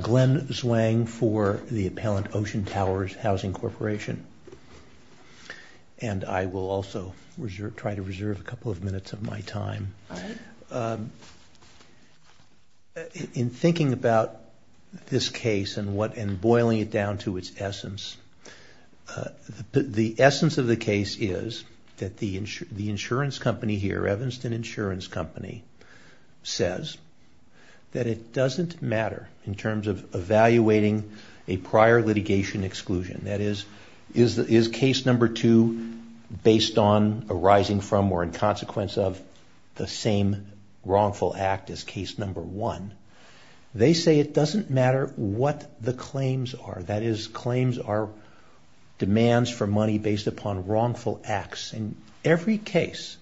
Glen Zwang for the Appellant Ocean Towers Housing Corporation. In thinking about this case and boiling it down to its essence, the essence of the case is that the insurance company here, Evanston Insurance Company, says that it doesn't matter in terms of evaluating a prior litigation exclusion, that is, is case number two based on arising from or in consequence of the same wrongful act as case number one. They say it doesn't matter what the claims are, that is, claims are demands for money based upon wrongful acts. In every case,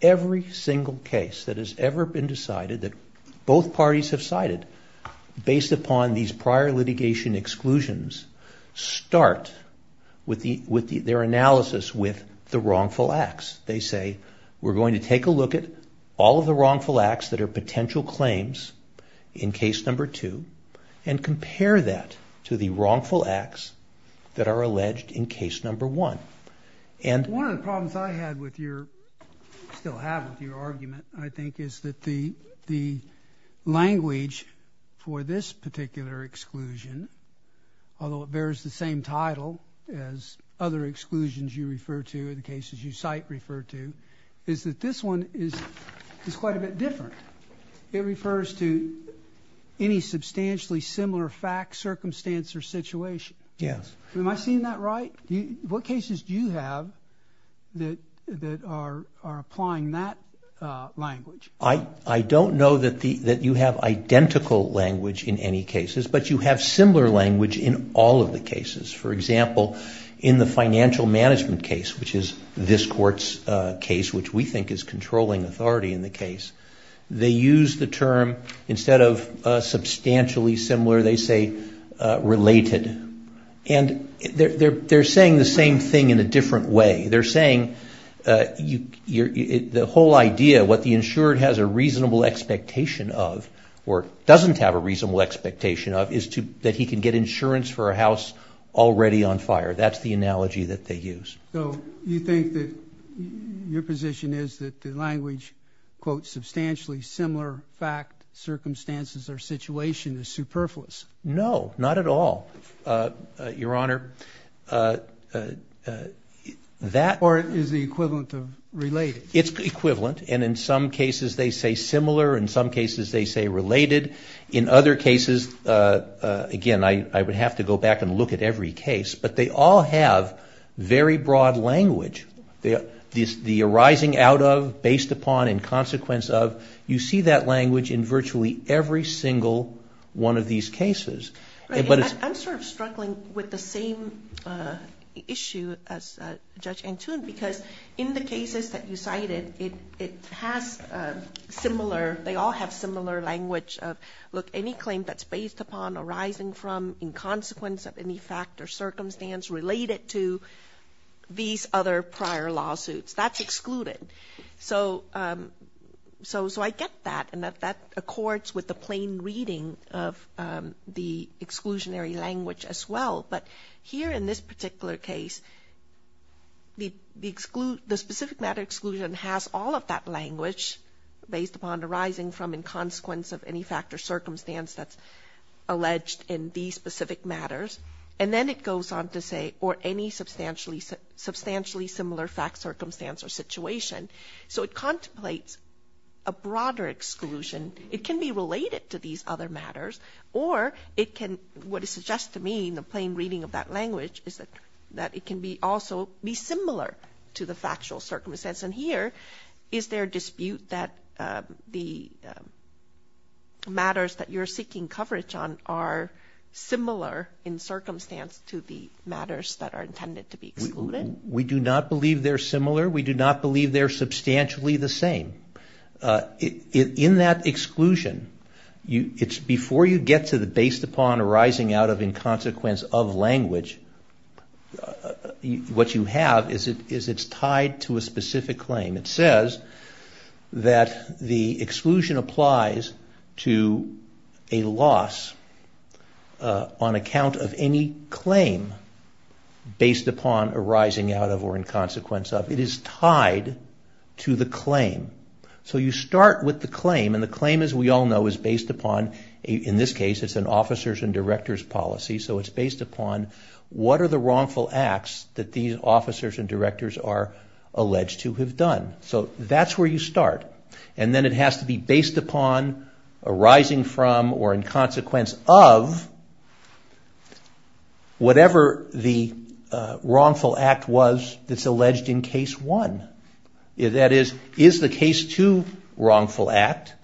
every single case that has ever been decided that both parties have cited based upon these prior litigation exclusions start with their analysis with the wrongful acts. They say, we're going to take a look at all of the wrongful acts that are potential claims in case number two and compare that to the wrongful acts that are alleged in case number one. One of the problems I had with your, still have with your argument, I think, is that the language for this particular exclusion, although it bears the same title as other exclusions you refer to or the cases you cite refer to, is that this one is quite a bit different. It refers to any substantially similar fact, circumstance, or situation. Yes. Am I seeing that right? What cases do you have that are applying that language? I don't know that you have identical language in any cases, but you have similar language in all of the cases. For example, in the financial management case, which is this court's case, which we think is controlling authority in the case, they use the term, instead of substantially similar, they say related. They're saying the same thing in a different way. They're saying the whole idea, what the insured has a reasonable expectation of, or doesn't have a reasonable expectation of, is that he can get insurance for a house already on fire. That's the analogy that they use. You think that your position is that the language, quote, substantially similar fact, circumstances, or situation is superfluous? No, not at all, Your Honor. Or is the equivalent of related? It's equivalent, and in some cases they say similar, in some cases they say related. In other cases, again, I would have to go back and look at every case, but they all have very broad language. The arising out of, based upon, and consequence of, you see that language in virtually every single one of these cases. I'm sort of struggling with the same issue as Judge Antune, because in the cases that you cited, it has similar, they all have similar language of, look, any claim that's based upon, arising from, in consequence of any fact or circumstance related to these other prior lawsuits, that's excluded. So I get that, and that accords with the plain reading of the exclusionary language as well, but here in this particular case, the specific matter exclusion has all of that language, based upon, arising from, in consequence of any fact or circumstance that's alleged in these specific matters, and then it goes on to say, or any substantially similar fact, circumstance, or situation. So it contemplates a broader exclusion. It can be related to these other matters, or it can, what it suggests to me in the plain reading of that language, is that it can also be similar to the factual circumstance, and here, is there a dispute that the matters that you're seeking coverage on are similar in circumstance to the matters that are intended to be excluded? We do not believe they're similar. We do not believe they're substantially the same. In that exclusion, it's before you get to the based upon, arising out of, in consequence of language, what you have is it's tied to a specific claim. It says that the exclusion applies to a loss on account of any claim based upon, arising out of, or in consequence of. It is tied to the claim. So you start with the claim, and the claim, as we all know, is based upon, in this case, it's an officer's and director's policy, so it's based upon what are the wrongful acts that these officers and directors are alleged to have done. So that's where you start, and then it has to be based upon, arising from, or in consequence of, whatever the wrongful act was that's alleged in case one. That is, is the case two wrongful act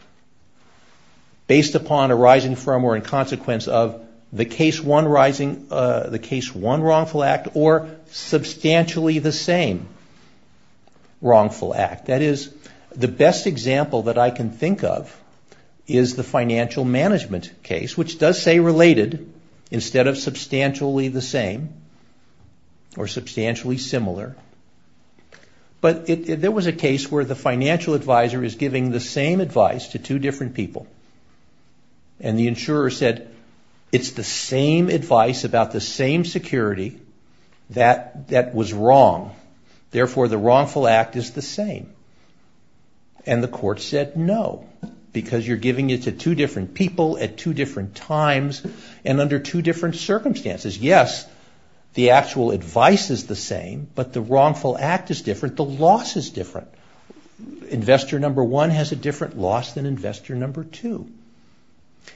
based upon, arising from, or in consequence of, the case one wrongful act or substantially the same wrongful act? That is, the best example that I can think of is the financial management case, which does say related instead of substantially the same or substantially similar. But there was a case where the financial advisor is giving the same advice to two different people, and the insurer said, it's the same advice about the same security that was wrong, therefore the wrongful act is the same. And the court said no, because you're giving it to two different people at two different times and under two different circumstances. Yes, the actual advice is the same, but the wrongful act is different, the loss is different. Investor number one has a different loss than investor number two.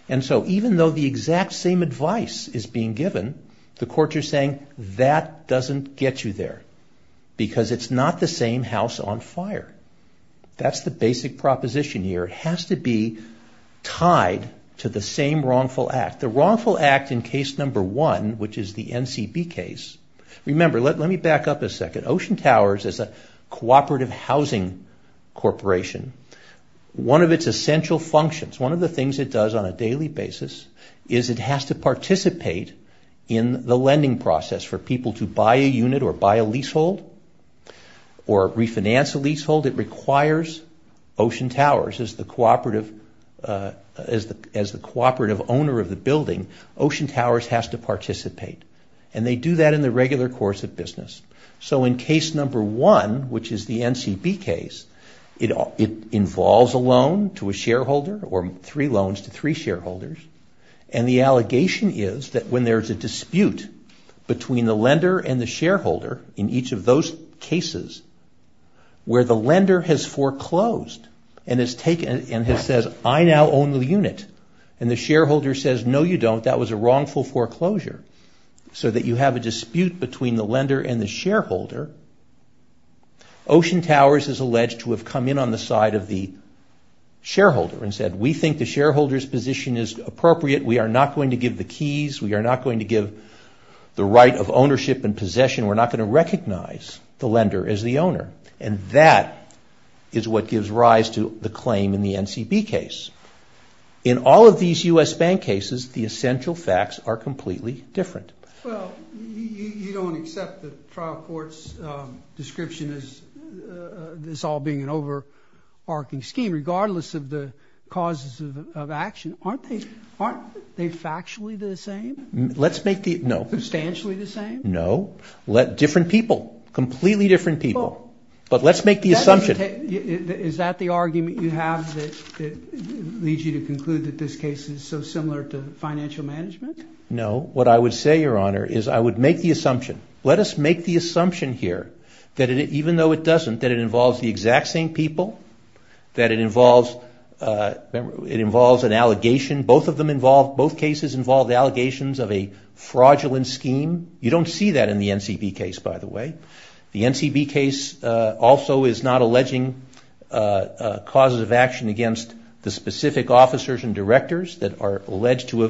And so even though the exact same advice is being given, the court is saying that doesn't get you there, because it's not the same house on fire. That's the basic proposition here. It has to be tied to the same wrongful act. The wrongful act in case number one, which is the NCB case. Remember, let me back up a second. Ocean Towers is a cooperative housing corporation. One of its essential functions, one of the things it does on a daily basis, is it has to participate in the lending process for people to buy a unit or buy a leasehold or refinance a leasehold. It requires Ocean Towers to participate. And they do that in the regular course of business. So in case number one, which is the NCB case, it involves a loan to a shareholder or three loans to three shareholders. And the allegation is that when there's a dispute between the lender and the shareholder in each of those cases, where the lender has foreclosed and has said, I now own the unit, and the shareholder says, no, you don't. That was a wrongful foreclosure. So that you have a dispute between the lender and the shareholder, Ocean Towers is alleged to have come in on the side of the shareholder and said, we think the shareholder's position is appropriate. We are not going to give the keys. We are not going to give the right of ownership and possession. We're not going to recognize the lender as the owner. And that is what gives rise to the claim in the NCB case. In all of these U.S. bank cases, the essential facts are completely different. Well, you don't accept the trial court's description as this all being an overarching scheme regardless of the causes of action. Aren't they factually the same? Let's make the, no. Substantially the same? No. Different people. Completely different people. But let's make the assumption. Is that the argument you have that leads you to conclude that this case is so similar to financial management? No. What I would say, Your Honor, is I would make the assumption. Let us make the assumption here that even though it doesn't, that it involves the exact same people, that it involves an allegation. Both of them involve, both cases involve the allegations of a fraudulent scheme. You don't see that in the NCB case, by the way. The NCB case also is not alleging causes of action against the specific officers and directors that are alleged to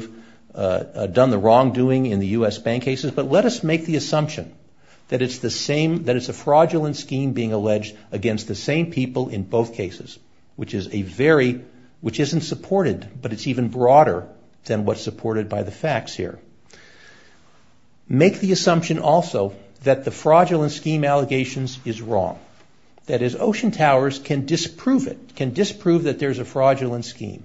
have done the wrongdoing in the U.S. bank cases. But let us make the assumption that it's the same, that it's a fraudulent scheme being alleged against the same people in both cases, which is a very, which isn't supported, but it's even broader than what's supported by the NCB. Make the assumption also that the fraudulent scheme allegations is wrong. That is, Ocean Towers can disprove it, can disprove that there's a fraudulent scheme.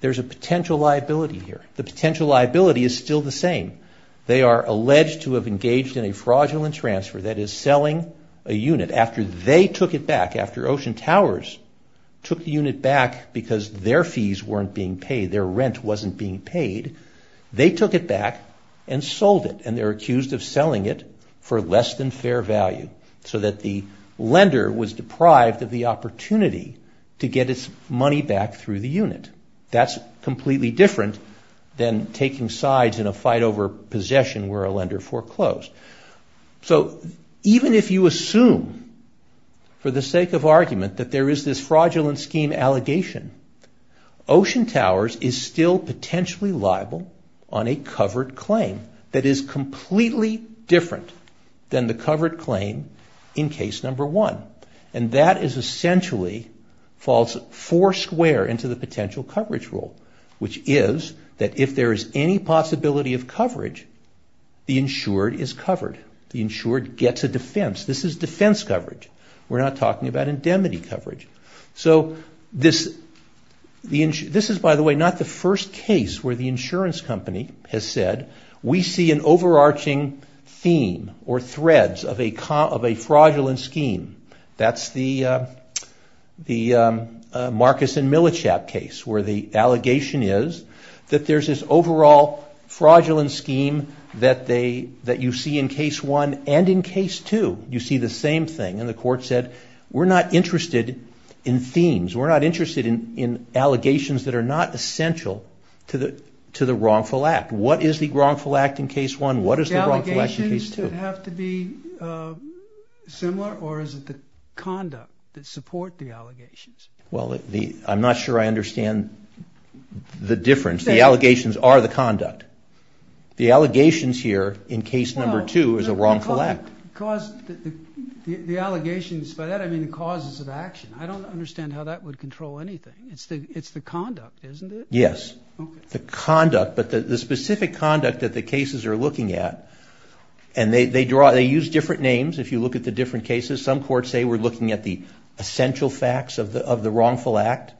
There's a potential liability here. The potential liability is still the same. They are alleged to have engaged in a fraudulent transfer, that is, selling a unit after they took it back, after Ocean Towers took the unit back because their fees weren't being paid, their rent wasn't being paid, and sold it. And they're accused of selling it for less than fair value so that the lender was deprived of the opportunity to get its money back through the unit. That's completely different than taking sides in a fight over possession where a lender foreclosed. So even if you assume, for the sake of argument, that there is this fraudulent scheme allegation, Ocean Towers is still potentially liable on a covered claim that is completely different than the covered claim in case number one. And that is essentially, falls four square into the potential coverage rule, which is that if there is any possibility of coverage, the insured is covered. The insured gets a defense. This is defense coverage. We're not talking about indemnity coverage. So this is, by the way, not the first case where the insurance company has said, we see an overarching theme or threads of a fraudulent scheme. That's the Marcus and Millichap case where the allegation is that there's this overall fraudulent scheme that you see in case one. And in case two, you see the same thing. And the court said, we're not interested in themes. We're not interested in allegations that are not essential to the wrongful act. What is the wrongful act in case one? What is the wrongful act in case two? The allegations have to be similar or is it the conduct that support the allegations? Well, I'm not sure I understand the difference. The allegations are the conduct. The allegations here in case number two is a wrongful act. The allegations, by that I mean the causes of action. I don't understand how that would control anything. It's the conduct, isn't it? Yes. The conduct, but the specific conduct that the cases are looking at, and they use different names if you look at the different cases. Some courts say we're looking at the of the wrongful act.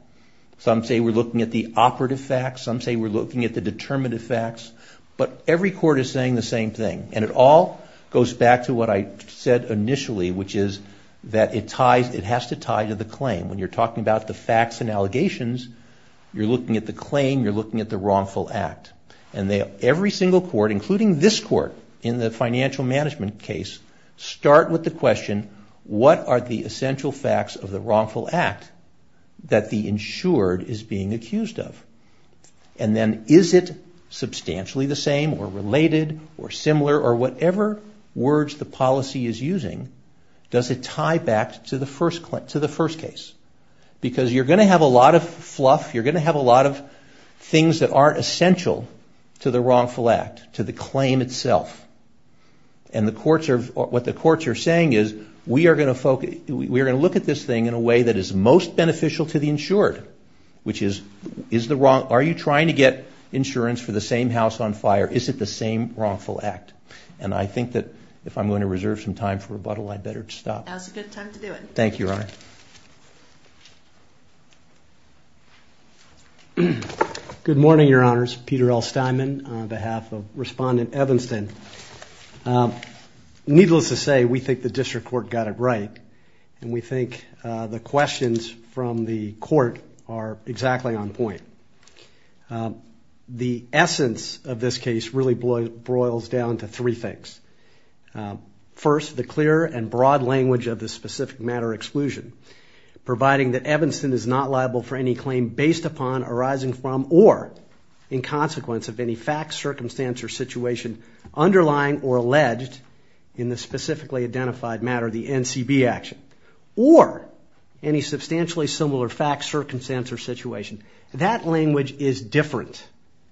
Some say we're looking at the operative facts. Some say we're looking at the determinative facts. But every court is saying the same thing. And it all goes back to what I said initially, which is that it has to tie to the claim. When you're talking about the facts and allegations, you're looking at the claim, you're looking at the wrongful act. And every single court, including this court in the financial management case, start with the question, what are the essential facts of the wrongful act that the insured is being accused of? And then is it substantially the same or related or similar or whatever words the policy is using, does it tie back to the first case? Because you're going to have a lot of fluff. You're going to have a lot of things that aren't essential to the case. What we're saying is, we are going to look at this thing in a way that is most beneficial to the insured, which is, are you trying to get insurance for the same house on fire? Is it the same wrongful act? And I think that if I'm going to reserve some time for rebuttal, I'd better stop. That's a good time to do it. Thank you, Your Honor. Good morning, Your Honors. Peter L. Steinman on behalf of Respondent Evanston. Needless to say, we think the district court got it right, and we think the questions from the court are exactly on point. The essence of this case really boils down to three things. First, the clear and broad language of the specific matter exclusion, providing that Evanston is not liable for any claim based upon, arising from, or in consequence of any fact, circumstance, or situation underlying or alleged in the specifically identified matter, the NCB action, or any substantially similar fact, circumstance, or situation. That language is different,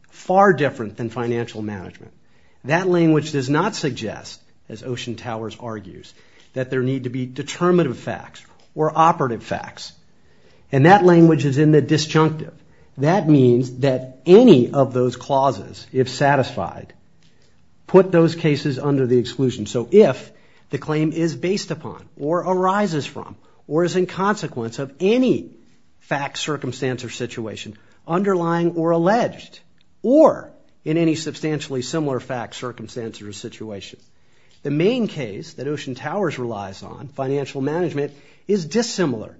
far different than financial management. That language does not suggest, as Ocean Towers argues, that there need to be determinative facts or operative facts. And that language is in the disjunctive. That means that any of those clauses, if satisfied, put those cases under the exclusion. So if the claim is based upon, or arises from, or is in consequence of any fact, circumstance, or situation underlying or alleged, or in any substantially similar fact, circumstance, or situation. The main case that Ocean Towers relies on, financial management, is dissimilar.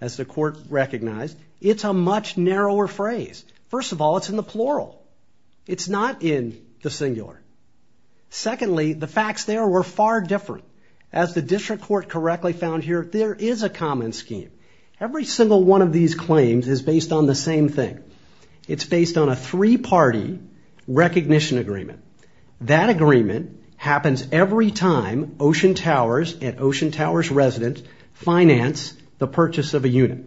As the court recognized, it's a much narrower phrase. First of all, it's in the plural. It's not in the singular. Secondly, the facts there were far different. As the district court correctly found here, there is a common scheme. Every single one of these claims is based on the same thing. It's based on a three-party recognition agreement. That agreement happens every time Ocean Towers and Ocean Towers residents finance the purchase of a unit.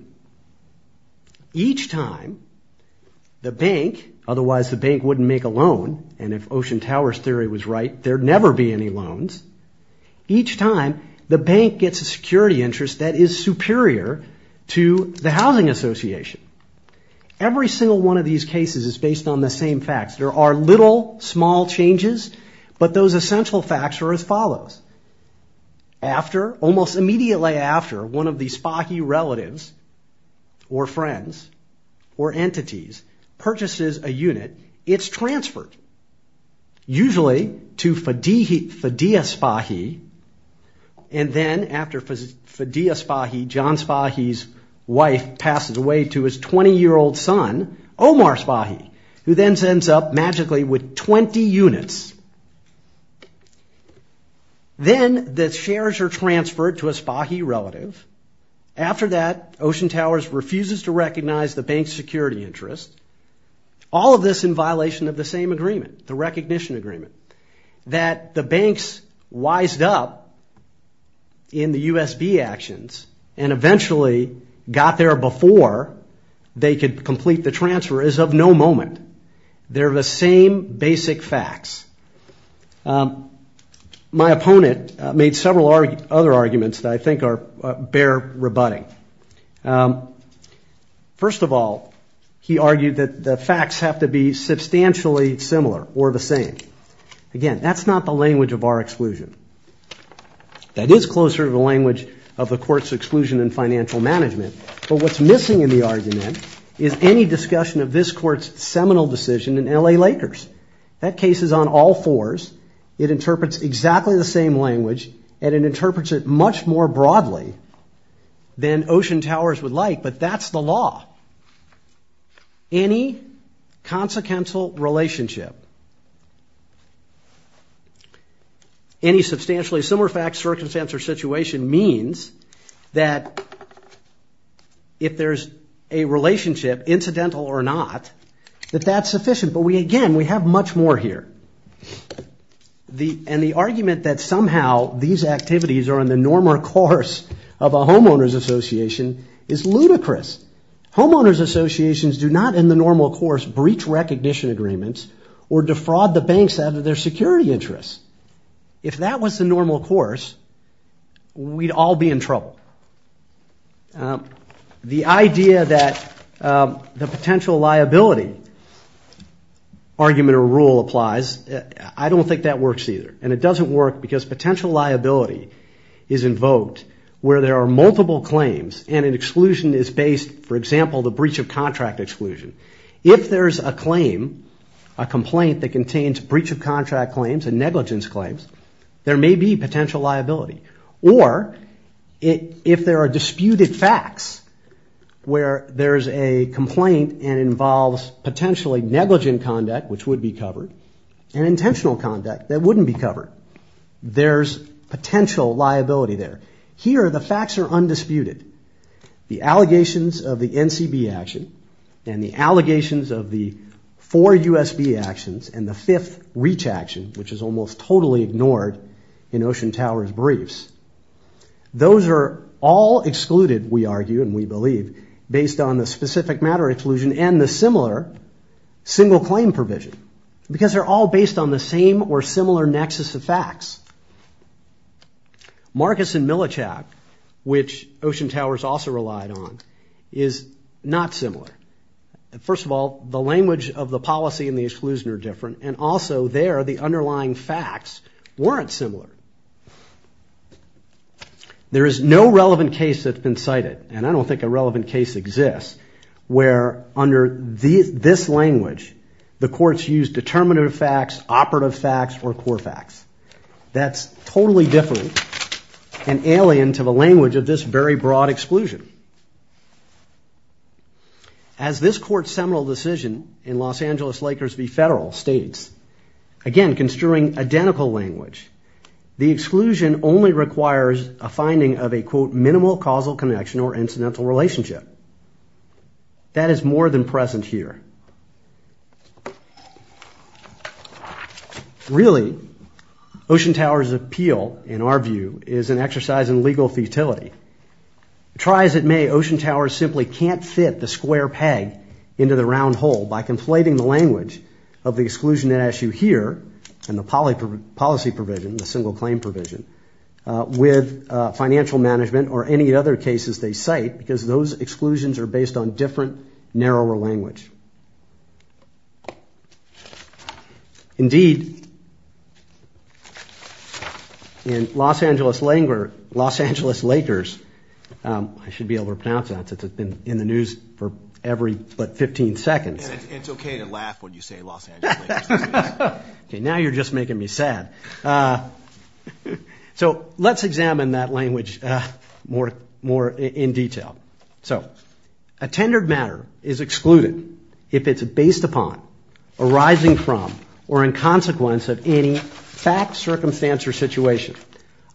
Each time, the bank, otherwise the bank wouldn't make a loan, and if Ocean Towers' theory was right, there'd never be any loans. Each time, the bank gets a security interest that is superior to the housing association. Every single one of these cases is based on the same facts. There are little, small changes, but those essential facts are as follows. After, almost immediately after, one of the Spahi relatives, or friends, or entities purchases a unit, it's transferred, usually to Fadiyah Spahi, and then after Fadiyah Spahi, John Spahi's wife, passes away to his 20-year-old son, Omar Spahi, who then ends up magically with 20 units. Then, the shares are transferred to a Spahi relative. After that, Ocean Towers refuses to recognize the bank's security interest. All of this in violation of the same agreement, the recognition agreement, that the banks wised up in the USB actions, and eventually got there before they could complete the transfer, is of no moment. They're the same basic facts. My opponent made several other arguments that I think are bare rebutting. First of all, he argued that the facts have to be substantially similar, or the same. Again, that's not the language of our exclusion. That is closer to the language of the Court's exclusion in financial management, but what's missing in the argument is any discussion of this Court's seminal decision in L.A. Lakers. That case is on all fours. It interprets exactly the same language, and it interprets it much more broadly than Ocean Towers would like, but that's the law. Any kind of discussion of a consequential relationship, any substantially similar facts, circumstances, or situation means that if there's a relationship, incidental or not, that that's sufficient, but again, we have much more here. The argument that somehow these activities are in the normal course of a homeowner's association is ludicrous. Homeowner's associations do not in the normal course breach recognition agreements or defraud the banks out of their security interests. If that was the normal course, we'd all be in trouble. The idea that the potential liability argument or rule applies, I don't think that works either, and it doesn't work because potential liability is invoked where there are multiple claims and an exclusion is based, for example, the breach of contract exclusion. If there's a claim, a complaint that contains breach of contract claims and negligence claims, there may be potential liability, or if there are disputed facts where there's a complaint and involves potentially negligent conduct, which would be covered, and intentional conduct that wouldn't be covered, there's potential liability there. Here, the facts are undisputed. The allegations of the NCB action and the allegations of the four USB actions and the fifth reach action, which is almost totally ignored in Ocean Tower's briefs, those are all excluded, we argue and we believe, based on the specific matter exclusion and the similar single claim provision because they're all similar. Marcus and Millichap, which Ocean Tower's also relied on, is not similar. First of all, the language of the policy and the exclusion are different, and also there, the underlying facts weren't similar. There is no relevant case that's been cited, and I don't think a relevant case exists, where under this language, the courts use determinative facts, operative facts, or core facts. That's totally different and alien to the language of this very broad exclusion. As this court's seminal decision in Los Angeles-Lakers v. Federal states, again, construing identical language, the exclusion only requires a finding of a, quote, minimal causal connection or incidental relationship. That is more than present here. Really, Ocean Tower's appeal, in our view, is an exercise in legal futility. Try as it may, Ocean Tower simply can't fit the square peg into the round hole by conflating the language of the exclusion at issue here and the policy provision, the single claim provision, with financial management or any other cases they cite because those exclusions are based on different, narrower language. Indeed, in Los Angeles-Lakers, I should be able to pronounce that since it's been in the news for every but 15 seconds. It's okay to laugh when you say Los Angeles-Lakers. Now you're just making me sad. So let's examine that language more in detail. So, in the case of a tendered matter, a tendered matter is excluded if it's based upon, arising from, or in consequence of any fact, circumstance, or situation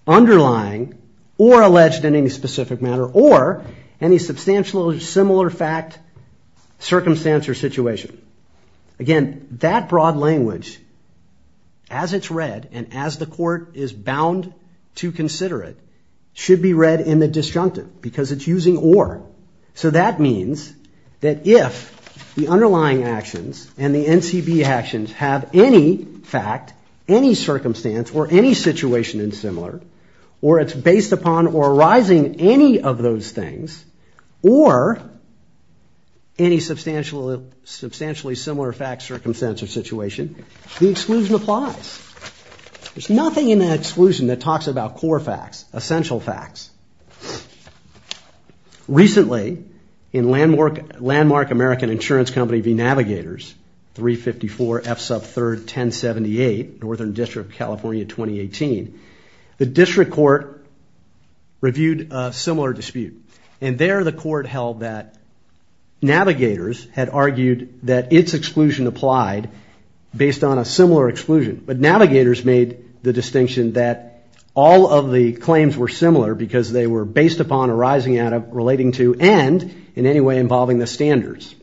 underlying or alleged in any specific matter or any substantial or similar fact, circumstance, or situation. Again, that broad language, as it's read and as the court is bound to consider it, should be read in the disjunctive because it's using or. So that means that if the underlying actions and the NCB actions have any fact, any circumstance, or any situation in similar, or it's based upon or arising any of those things, or any substantially similar fact, circumstance, or situation, the exclusion applies. There's nothing in that exclusion that talks about core facts, essential facts. Recently, in Landmark American Insurance Company v. Navigators, 354 F sub 3rd 1078, Northern District, California, 2018, the district court reviewed a similar dispute and there the court held that Navigators had argued that its exclusion applied based on a similar exclusion, but Navigators made the distinction that all of the claims were similar because they were based upon, arising out of, relating to, and in any way involving the standards.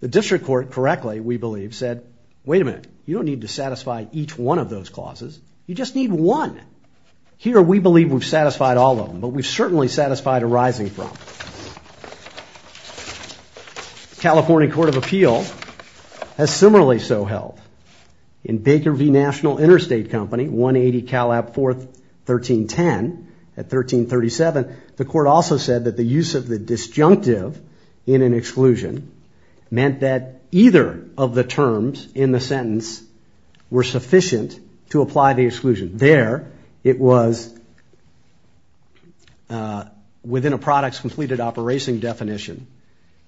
The district court correctly, we believe, said, wait a minute, you don't need to satisfy each one of those clauses. You just need one. Here, we believe we've satisfied all of them, but we've certainly satisfied arising from. California Court of Appeals has similarly so held. In Baker v. National Interstate Company, 180 Calab 4th 1310 at 1337, the court also said that the use of the disjunctive in an exclusion meant that either of the terms in the sentence were sufficient to apply the exclusion. There, it was within a product's completed operating definition.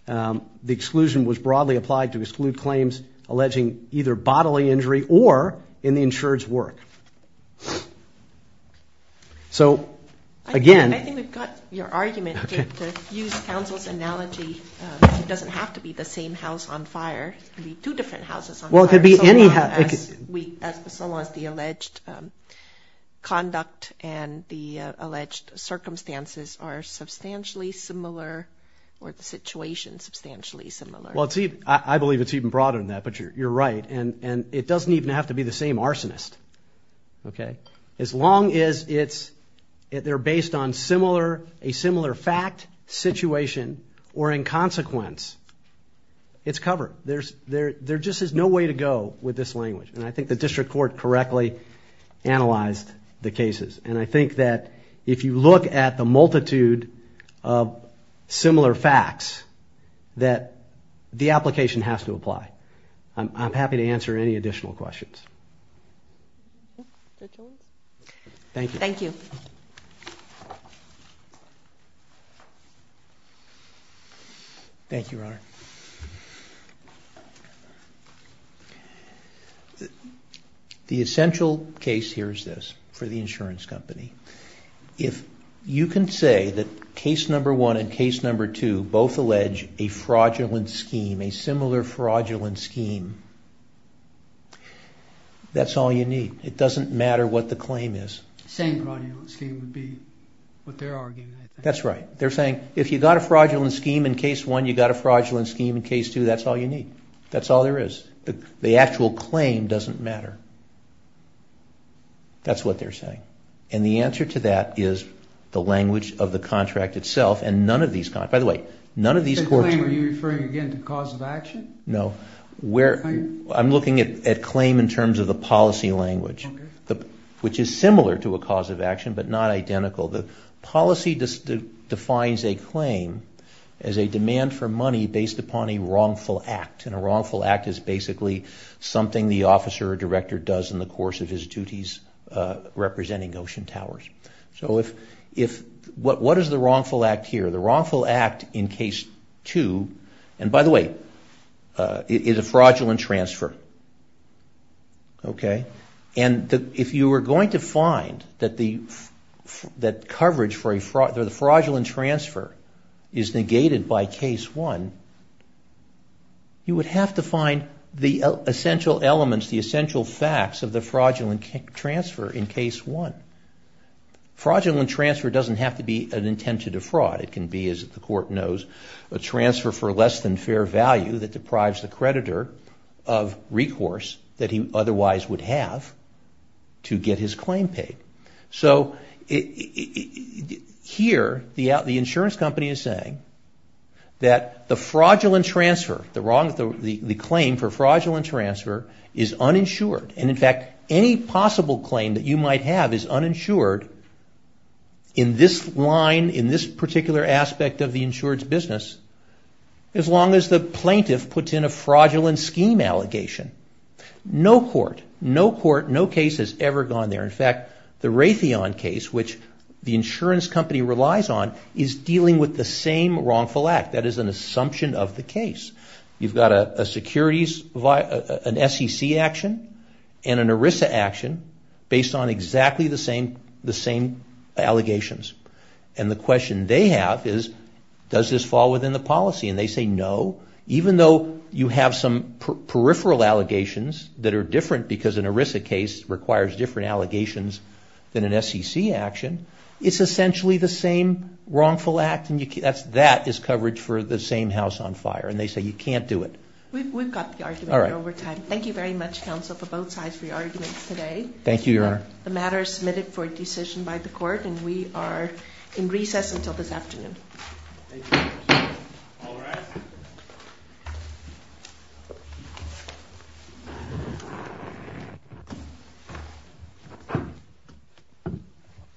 The exclusion was broadly applied to exclude claims alleging either bodily injury or in the insured's work. So again, I think we've got your argument. To use counsel's analogy, it doesn't have to be the same house on fire. It could be two different houses on fire. Well, it could be any house. So long as the alleged conduct and the alleged circumstances are substantially similar, or the situation substantially similar. Well, I believe it's even broader than that, but you're right. It doesn't even have to be the same arsonist. As long as they're based on a similar fact, situation, or in consequence, it's covered. There just is no way to go with this language. I think the district court correctly analyzed the cases. I think that if you look at the multitude of similar facts, that the application has to apply. I'm happy to answer any additional questions. Thank you. Thank you, Your Honor. The essential case here is this, for the insurance company. If you can say that case number one and case number two both allege a fraudulent scheme, a similar fraudulent scheme, that's all you need. It doesn't matter what the claim is. The same fraudulent scheme would be what they're arguing. That's right. They're saying, if you've got a fraudulent scheme in case one, you've got a fraudulent scheme in case two, that's all you need. That's all there is. The actual claim doesn't matter. That's what they're saying. The answer to that is the language of the contract itself. By the way, none of these courts... The claim, are you referring again to cause of action? No. I'm looking at claim in terms of the policy language, which is similar to a cause of action, but not identical. The policy defines a claim as a demand for money based upon a wrongful act. A wrongful act is basically something the officer or director does in the course of his duties representing Ocean Towers. What is the wrongful act here? The wrongful act in case two, and by the way, is a fraudulent transfer. If you were going to find that the coverage for a fraudulent transfer is a fraudulent is negated by case one, you would have to find the essential elements, the essential facts of the fraudulent transfer in case one. Fraudulent transfer doesn't have to be an intent to defraud. It can be, as the court knows, a transfer for less than fair value that deprives the creditor of recourse that he otherwise would have to get his claim paid. So here, the insurance company is saying that the fraudulent transfer, the claim for fraudulent transfer is uninsured, and in fact, any possible claim that you might have is uninsured in this line, in this particular aspect of the insured's business, as long as the plaintiff puts in a fraudulent scheme allegation. No court, no case has ever gone there. In fact, the Raytheon case, which the insurance company relies on, is dealing with the same wrongful act. That is an assumption of the case. You've got an SEC action and an ERISA action based on exactly the same allegations, and the question they have is, does this fall within the policy? And they say, no. Even though you have some peripheral allegations that are different because an ERISA case requires different allegations than an SEC action, it's essentially the same wrongful act, and that is coverage for the same house on fire. And they say, you can't do it. We've got the argument over time. Thank you very much, counsel, for both sides for your arguments today. Thank you, Your Honor. The matter is submitted for decision by the court, and we are in recess until this afternoon. Thank you, guys.